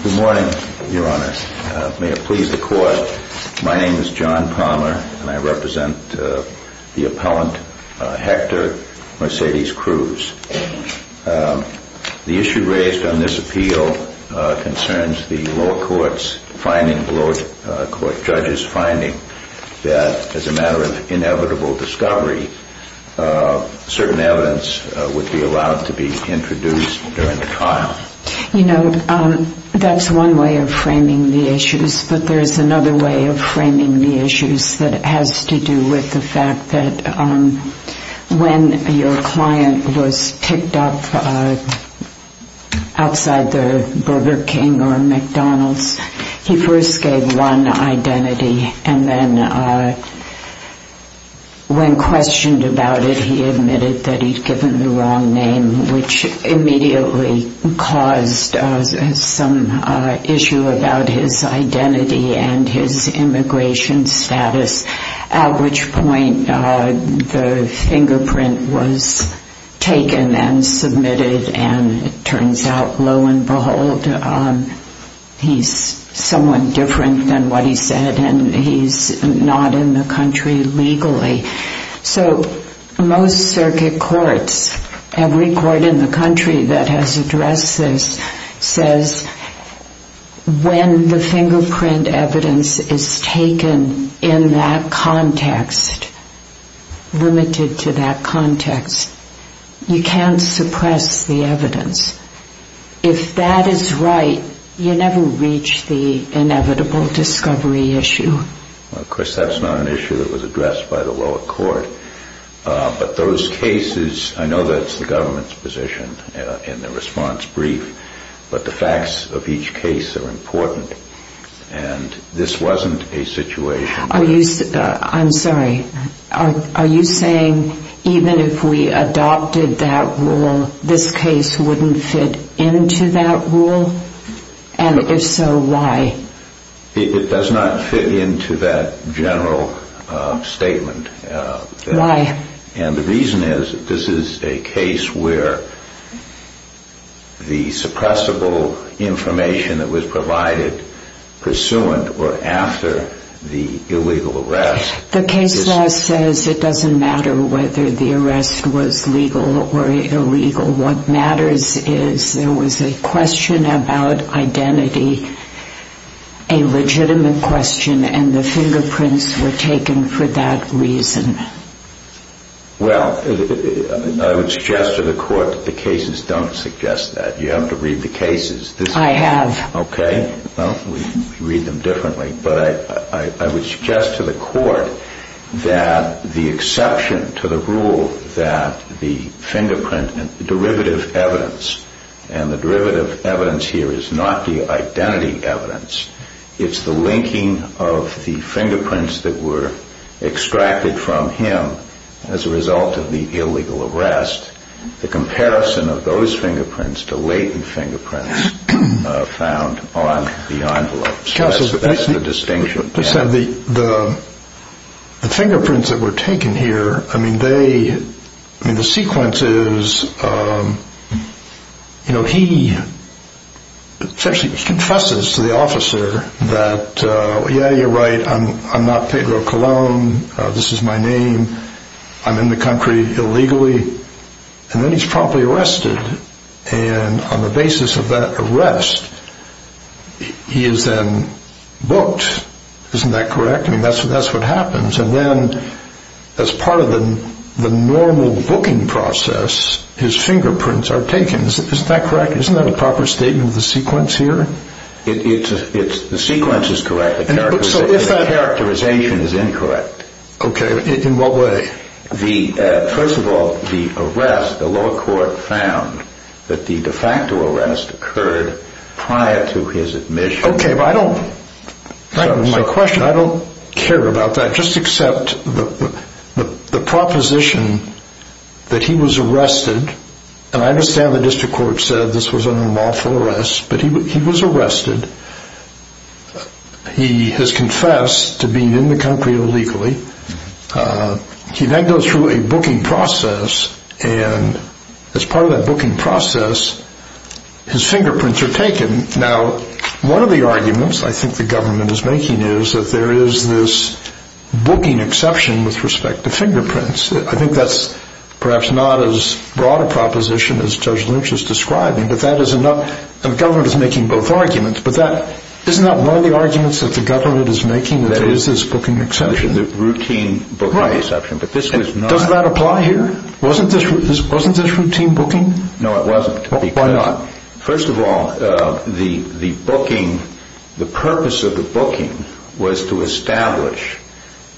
Good morning, Your Honor. May it please the Court, my name is John Palmer and I represent the appellant, Hector Mercedes Cruz. The issue raised on this appeal concerns the lower court's finding, the lower court judge's finding, that as a matter of inevitable discovery, certain evidence would be allowed to be introduced during the trial. You know, that's one way of framing the issues, but there's another way of framing the issues that has to do with the fact that when your client was picked up outside the Burger King or McDonald's, he first gave one identity and then when questioned about it, he admitted that he'd given the wrong name, which immediately caused some issue about his identity and his immigration status, at which point the fingerprint was taken and submitted and it turns out, lo and behold, he's someone different than what he said and he's not in the country legally. So most circuit courts, every court in the country that has addressed this, says when the fingerprint evidence is taken in that context, limited to that context, you can't suppress the evidence. If that is right, you never reach the inevitable discovery issue. Of course, that's not an issue that was addressed by the lower court, but those cases, I know that's the And this wasn't a situation... I'm sorry, are you saying even if we adopted that rule, this case wouldn't fit into that rule? And if so, why? It does not fit into that general statement. Why? And the reason is that this is a case where the suppressible information that was provided pursuant or after the illegal arrest... The case law says it doesn't matter whether the arrest was legal or illegal. What matters is there was a question about identity, a legitimate question, and the fingerprints were taken for that reason. Well, I would suggest to the court that the cases don't suggest that. You have to read the cases. I have. Okay. Well, we read them differently. But I would suggest to the court that the exception to the rule that the fingerprint and derivative evidence, and the derivative evidence here is not the identity evidence, it's the linking of the fingerprints that were extracted from him as a result of the illegal arrest, the comparison of those fingerprints to latent fingerprints found on the envelopes. That's the distinction. The fingerprints that were taken here, I mean, they... I mean, the sequence is, you know, he essentially confesses to the officer that, yeah, you're right, I'm not Pedro Colon, this is my name, I'm in the country illegally, and then he's promptly arrested. And on the basis of that arrest, he is then booked. Isn't that correct? I mean, that's what happens. And then as part of the normal booking process, his fingerprints are taken. Isn't that correct? Isn't that a proper statement of the sequence here? The sequence is correct. The characterization is incorrect. Okay. In what way? First of all, the arrest, the lower court found that the de facto arrest occurred prior to his admission. Okay, but I don't, my question, I don't care about that, just accept the proposition that he was arrested, and I understand the district court said this was an unlawful arrest, but he was arrested. He has confessed to being in the country illegally. He then goes through a booking process, and as part of that booking process, his fingerprints are taken. Now, one of the arguments I think the government is making is that there is this booking exception with respect to fingerprints. I think that's perhaps not as broad a proposition as Judge Lynch is describing, and the government is making both arguments, but isn't that one of the arguments that the government is making, that there is this booking exception? The routine booking exception, but this was not. Does that apply here? Wasn't this routine booking? No, it wasn't. Why not? First of all, the booking, the purpose of the booking was to establish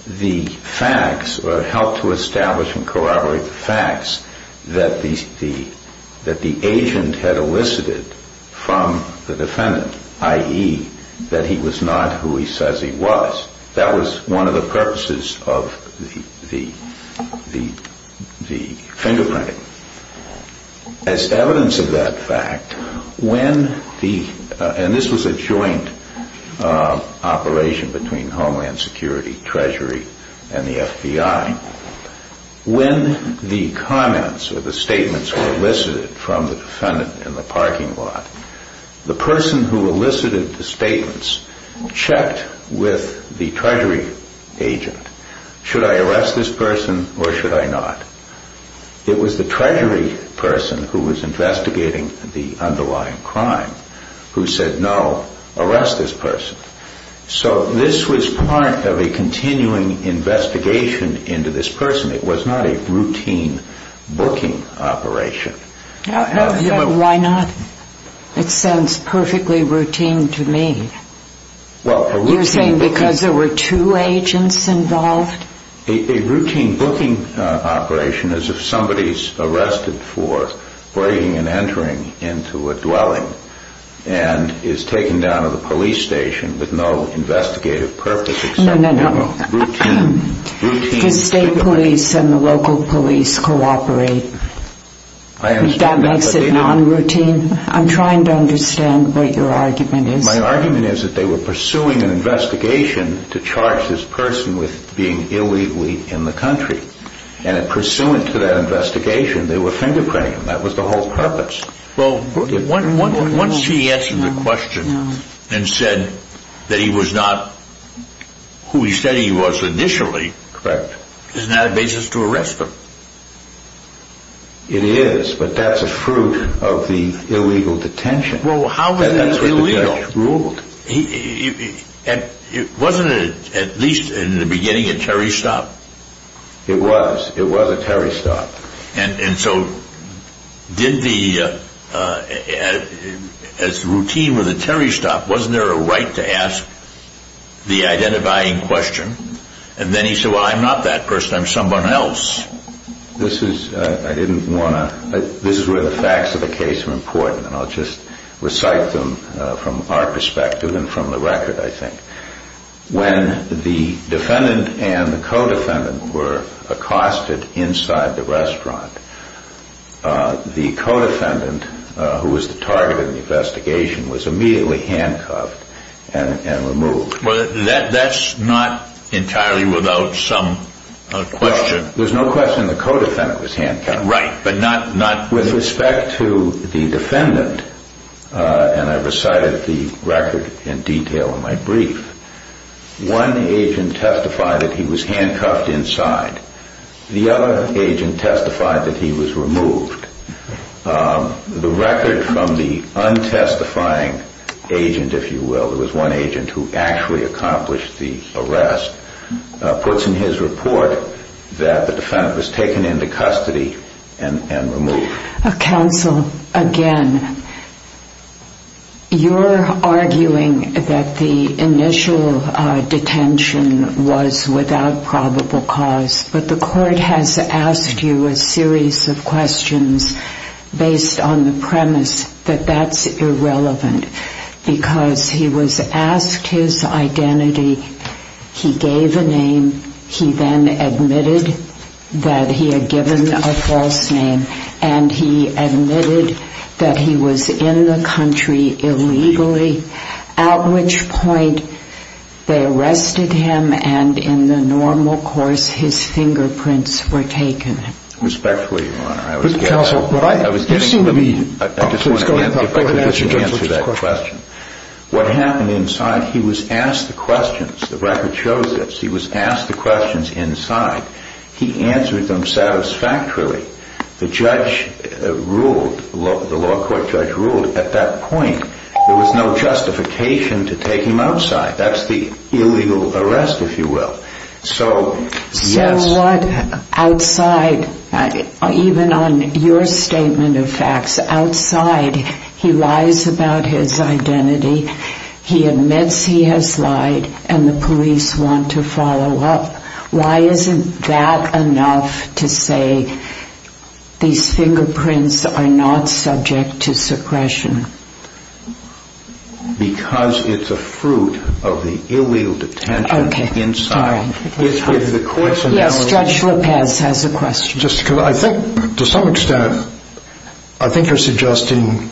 the facts, or help to establish and corroborate the facts that the agent had elicited from the defendant, i.e. that he was not who he says he was. That was one of the purposes of the fingerprinting. As evidence of that fact, when the, and this was a joint operation between Homeland Security, Treasury, and the FBI, when the comments or the statements were elicited from the defendant in the parking lot, the person who elicited the statements checked with the Treasury agent, should I arrest this person or should I not? It was the Treasury person who was investigating the underlying crime who said no, arrest this person. So this was part of a continuing investigation into this person. It was not a routine booking operation. Why not? It sounds perfectly routine to me. You're saying because there were two agents involved? A routine booking operation is if somebody is arrested for breaking and entering into a dwelling and is taken down to the police station with no investigative purpose except for a routine pickup. Does state police and the local police cooperate? That makes it non-routine? I'm trying to understand what your argument is. My argument is that they were pursuing an investigation to charge this person with being illegally in the country. And pursuant to that investigation, they were fingerprinting him. That was the whole purpose. Well, once he answered the question and said that he was not who he said he was initially, isn't that a basis to arrest him? It is, but that's a fruit of the illegal detention. Well, how was it illegal? It wasn't at least in the beginning a Terry Stopp? It was. It was a Terry Stopp. And so did the routine with the Terry Stopp, wasn't there a right to ask the identifying question? And then he said, well, I'm not that person. I'm someone else. This is where the facts of the case are important. And I'll just recite them from our perspective and from the record, I think. When the defendant and the co-defendant were accosted inside the restaurant, the co-defendant, who was the target of the investigation, was immediately handcuffed and removed. Well, that's not entirely without some question. There's no question the co-defendant was handcuffed. Right, but not... One agent testified that he was handcuffed inside. The other agent testified that he was removed. The record from the un-testifying agent, if you will, there was one agent who actually accomplished the arrest, puts in his report that the defendant was taken into custody and removed. Counsel, again, you're arguing that the initial detention was without probable cause, but the court has asked you a series of questions based on the premise that that's irrelevant, because he was asked his identity, he gave a name, he then admitted that he had given a false name, and he admitted that he was in the country illegally, at which point they arrested him and in the normal course his fingerprints were taken. Respectfully, Your Honor, I was getting... Counsel, you seem to be... I just want to answer that question. What happened inside, he was asked the questions, the record shows this, he was asked the questions inside. He answered them satisfactorily. The judge ruled, the law court judge ruled, at that point there was no justification to take him outside. That's the illegal arrest, if you will. So, yes... So what, outside, even on your statement of facts, outside he lies about his identity, he admits he has lied, and the police want to follow up. Why isn't that enough to say these fingerprints are not subject to suppression? Because it's a fruit of the illegal detention inside. Okay, sorry. It's with the coincidence... Yes, Judge Lopez has a question. Just because I think, to some extent, I think you're suggesting...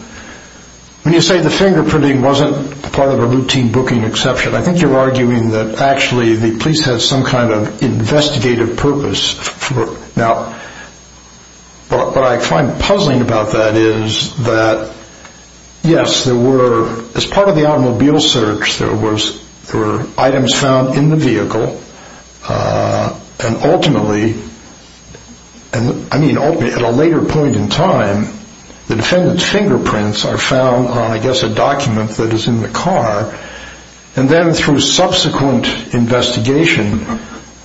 When you say the fingerprinting wasn't part of a routine booking exception, I think you're arguing that actually the police had some kind of investigative purpose. Now, what I find puzzling about that is that, yes, there were, as part of the automobile search, there were items found in the vehicle, and ultimately, I mean ultimately, at a later point in time, the defendant's fingerprints are found on, I guess, a document that is in the car, and then through subsequent investigation,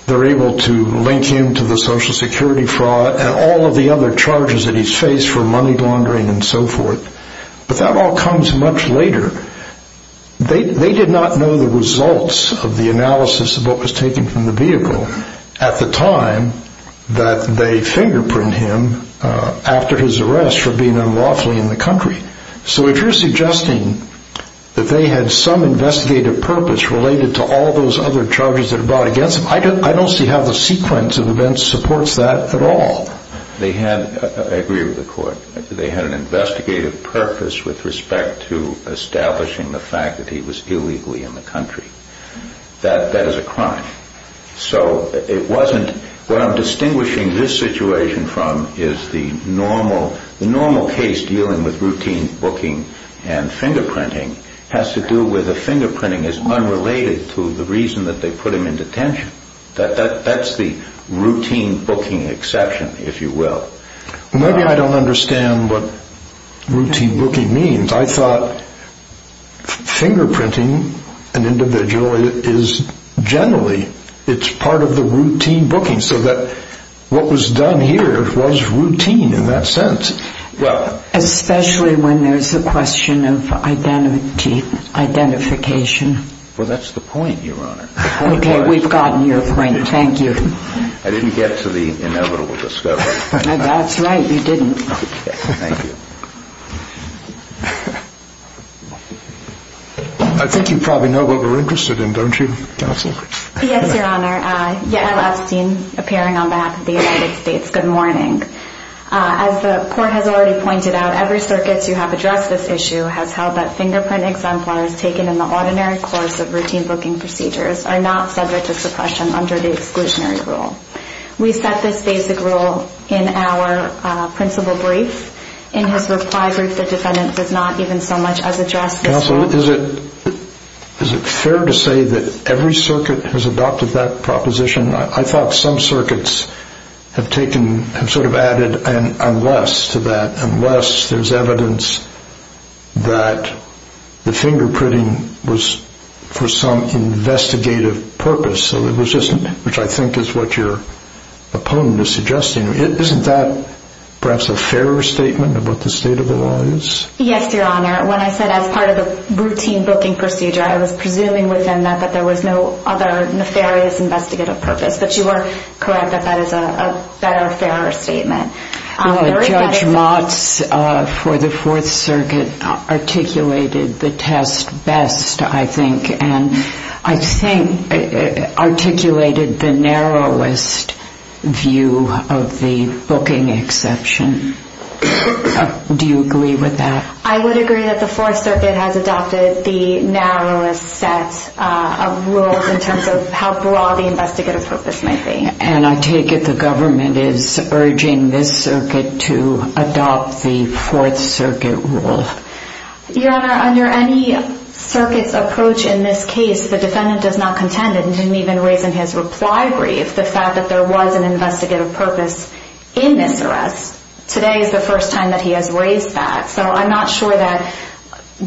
they're able to link him to the Social Security fraud and all of the other charges that he's faced for money laundering and so forth. But that all comes much later. They did not know the results of the analysis of what was taken from the vehicle at the time that they fingerprint him after his arrest for being unlawfully in the country. So if you're suggesting that they had some investigative purpose related to all those other charges that are brought against him, I don't see how the sequence of events supports that at all. They had, I agree with the court, they had an investigative purpose with respect to establishing the fact that he was illegally in the country. That is a crime. So it wasn't... What I'm distinguishing this situation from is the normal case dealing with routine booking and fingerprinting has to do with the fingerprinting is unrelated to the reason that they put him in detention. That's the routine booking exception, if you will. Maybe I don't understand what routine booking means. I thought fingerprinting an individual is generally, it's part of the routine booking, so that what was done here was routine in that sense. Especially when there's a question of identity, identification. Well, that's the point, Your Honor. Okay, we've gotten your point. Thank you. I didn't get to the inevitable discovery. That's right, you didn't. Thank you. Yes, Your Honor. Yael Epstein, appearing on behalf of the United States. Good morning. As the court has already pointed out, every circuit to have addressed this issue has held that fingerprint exemplars taken in the ordinary course of routine booking procedures are not subject to suppression under the exclusionary rule. We set this basic rule in our principal brief. In his reply brief, the defendant does not even so much as address this rule. Counsel, is it fair to say that every circuit has adopted that proposition? I thought some circuits have sort of added an unless to that, unless there's evidence that the fingerprinting was for some investigative purpose, which I think is what your opponent is suggesting. Isn't that perhaps a fairer statement about the state of the law is? Yes, Your Honor. When I said as part of the routine booking procedure, I was presuming within that that there was no other nefarious investigative purpose, but you are correct that that is a better, fairer statement. Judge Motz for the Fourth Circuit articulated the test best, I think, and I think articulated the narrowest view of the booking exception. Do you agree with that? I would agree that the Fourth Circuit has adopted the narrowest set of rules in terms of how broad the investigative purpose might be. And I take it the government is urging this circuit to adopt the Fourth Circuit rule. Your Honor, under any circuit's approach in this case, the defendant does not contend and didn't even raise in his reply brief the fact that there was an investigative purpose in this arrest. Today is the first time that he has raised that. So I'm not sure that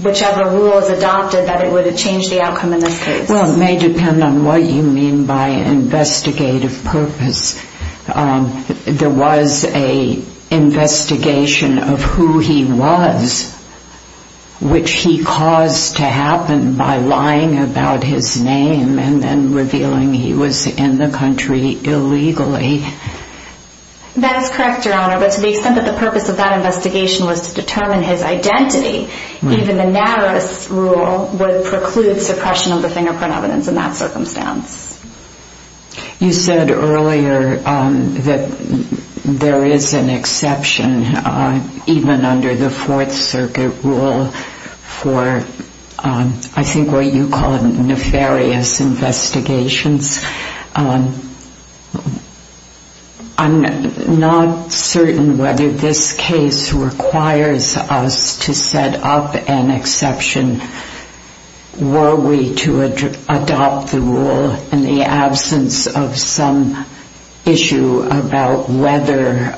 whichever rule is adopted, that it would have changed the outcome in this case. Well, it may depend on what you mean by investigative purpose. There was an investigation of who he was, which he caused to happen by lying about his name and then revealing he was in the country illegally. That is correct, Your Honor, but to the extent that the purpose of that investigation was to determine his identity, even the narrowest rule would preclude suppression of the fingerprint evidence in that circumstance. You said earlier that there is an exception, even under the Fourth Circuit rule, for I think what you call nefarious investigations. I'm not certain whether this case requires us to set up an exception. Were we to adopt the rule in the absence of some issue about whether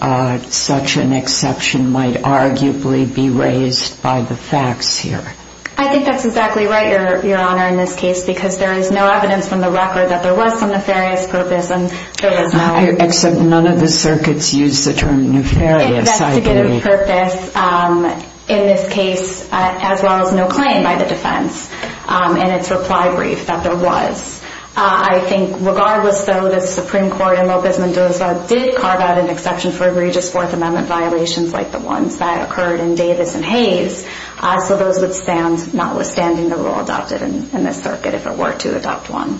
such an exception might arguably be raised by the facts here? I think that's exactly right, Your Honor, in this case, because there is no evidence from the record that there was some nefarious purpose. Except none of the circuits use the term nefarious, I believe. Investigative purpose in this case, as well as no claim by the defense in its reply brief that there was. I think regardless, though, the Supreme Court in Lopez Mendoza did carve out an exception for egregious Fourth Amendment violations like the ones that occurred in Davis and Hayes. So those would stand, notwithstanding the rule adopted in this circuit, if it were to adopt one.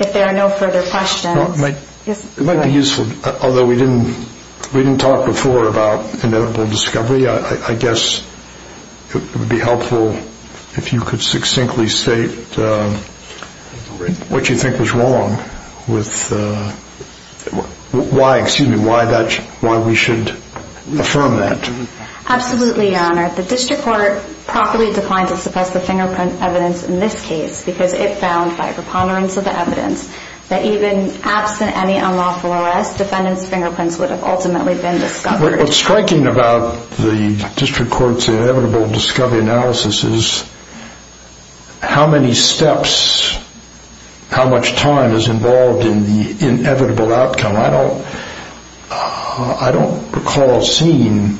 If there are no further questions. It might be useful, although we didn't talk before about inevitable discovery, I guess it would be helpful if you could succinctly state what you think was wrong, why we should affirm that. Absolutely, Your Honor. The District Court properly declined to suppress the fingerprint evidence in this case because it found, by preponderance of the evidence, that even absent any unlawful arrest, defendants' fingerprints would have ultimately been discovered. What's striking about the District Court's inevitable discovery analysis is how many steps, how much time is involved in the inevitable outcome. I don't recall seeing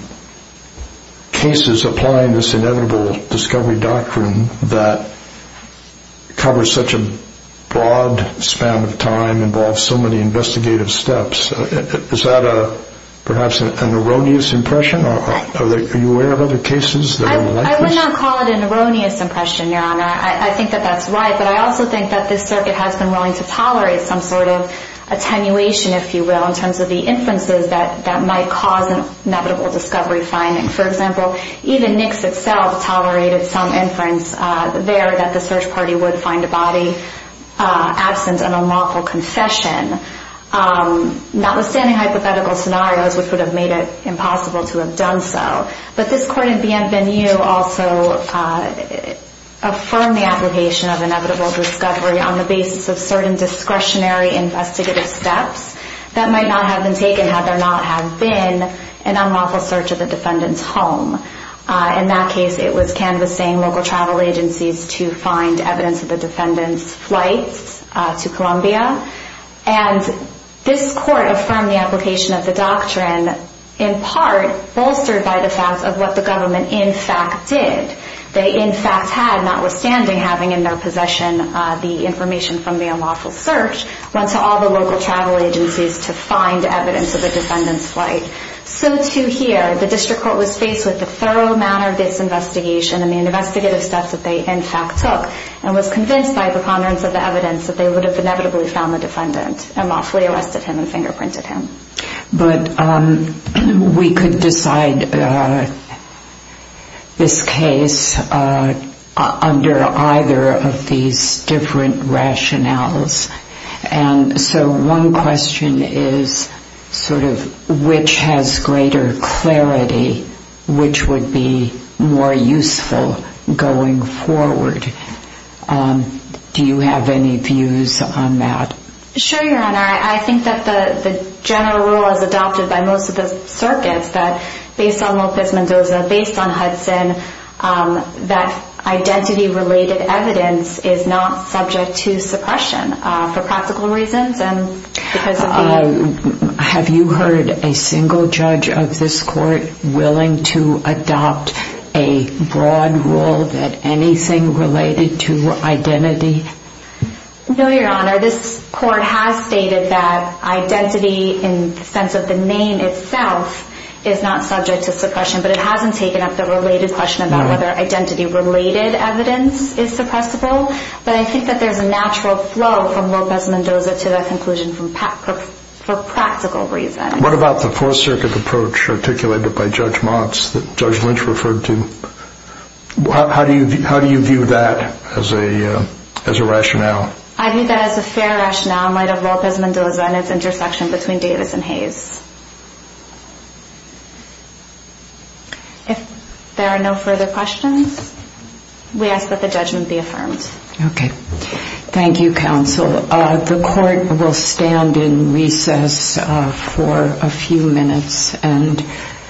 cases applying this inevitable discovery doctrine that covers such a broad span of time, involves so many investigative steps. Is that perhaps an erroneous impression? Are you aware of other cases that are like this? I would not call it an erroneous impression, Your Honor. I think that that's right, but I also think that this circuit has been willing to tolerate some sort of attenuation, if you will, in terms of the inferences that might cause inevitable discovery findings. For example, even Nix itself tolerated some inference there that the search party would find a body absent an unlawful concession, notwithstanding hypothetical scenarios which would have made it impossible to have done so. But this court in Bienvenue also affirmed the application of inevitable discovery on the basis of certain discretionary investigative steps that might not have been taken had there not have been an unlawful search of the defendant's home. In that case, it was canvassing local travel agencies to find evidence of the defendant's flight to Colombia. And this court affirmed the application of the doctrine, in part bolstered by the fact of what the government in fact did. They in fact had, notwithstanding having in their possession the information from the unlawful search, went to all the local travel agencies to find evidence of the defendant's flight. So too here, the district court was faced with the thorough manner of this investigation and the investigative steps that they in fact took, and was convinced by a preponderance of the evidence that they would have inevitably found the defendant and lawfully arrested him and fingerprinted him. But we could decide this case under either of these different rationales. And so one question is, sort of, which has greater clarity? Which would be more useful going forward? Do you have any views on that? Sure, Your Honor. I think that the general rule as adopted by most of the circuits, that based on Lopez Mendoza, based on Hudson, that identity-related evidence is not subject to suppression for practical reasons. Have you heard a single judge of this court willing to adopt a broad rule that anything related to identity? No, Your Honor. This court has stated that identity in the sense of the name itself is not subject to suppression, but it hasn't taken up the related question about whether identity-related evidence is suppressible. But I think that there's a natural flow from Lopez Mendoza to that conclusion for practical reasons. What about the Fourth Circuit approach articulated by Judge Motz that Judge Lynch referred to? How do you view that as a rationale? I view that as a fair rationale in light of Lopez Mendoza and its intersection between Davis and Hayes. If there are no further questions, we ask that the judgment be affirmed. Okay. Thank you, counsel. The court will stand in recess for a few minutes.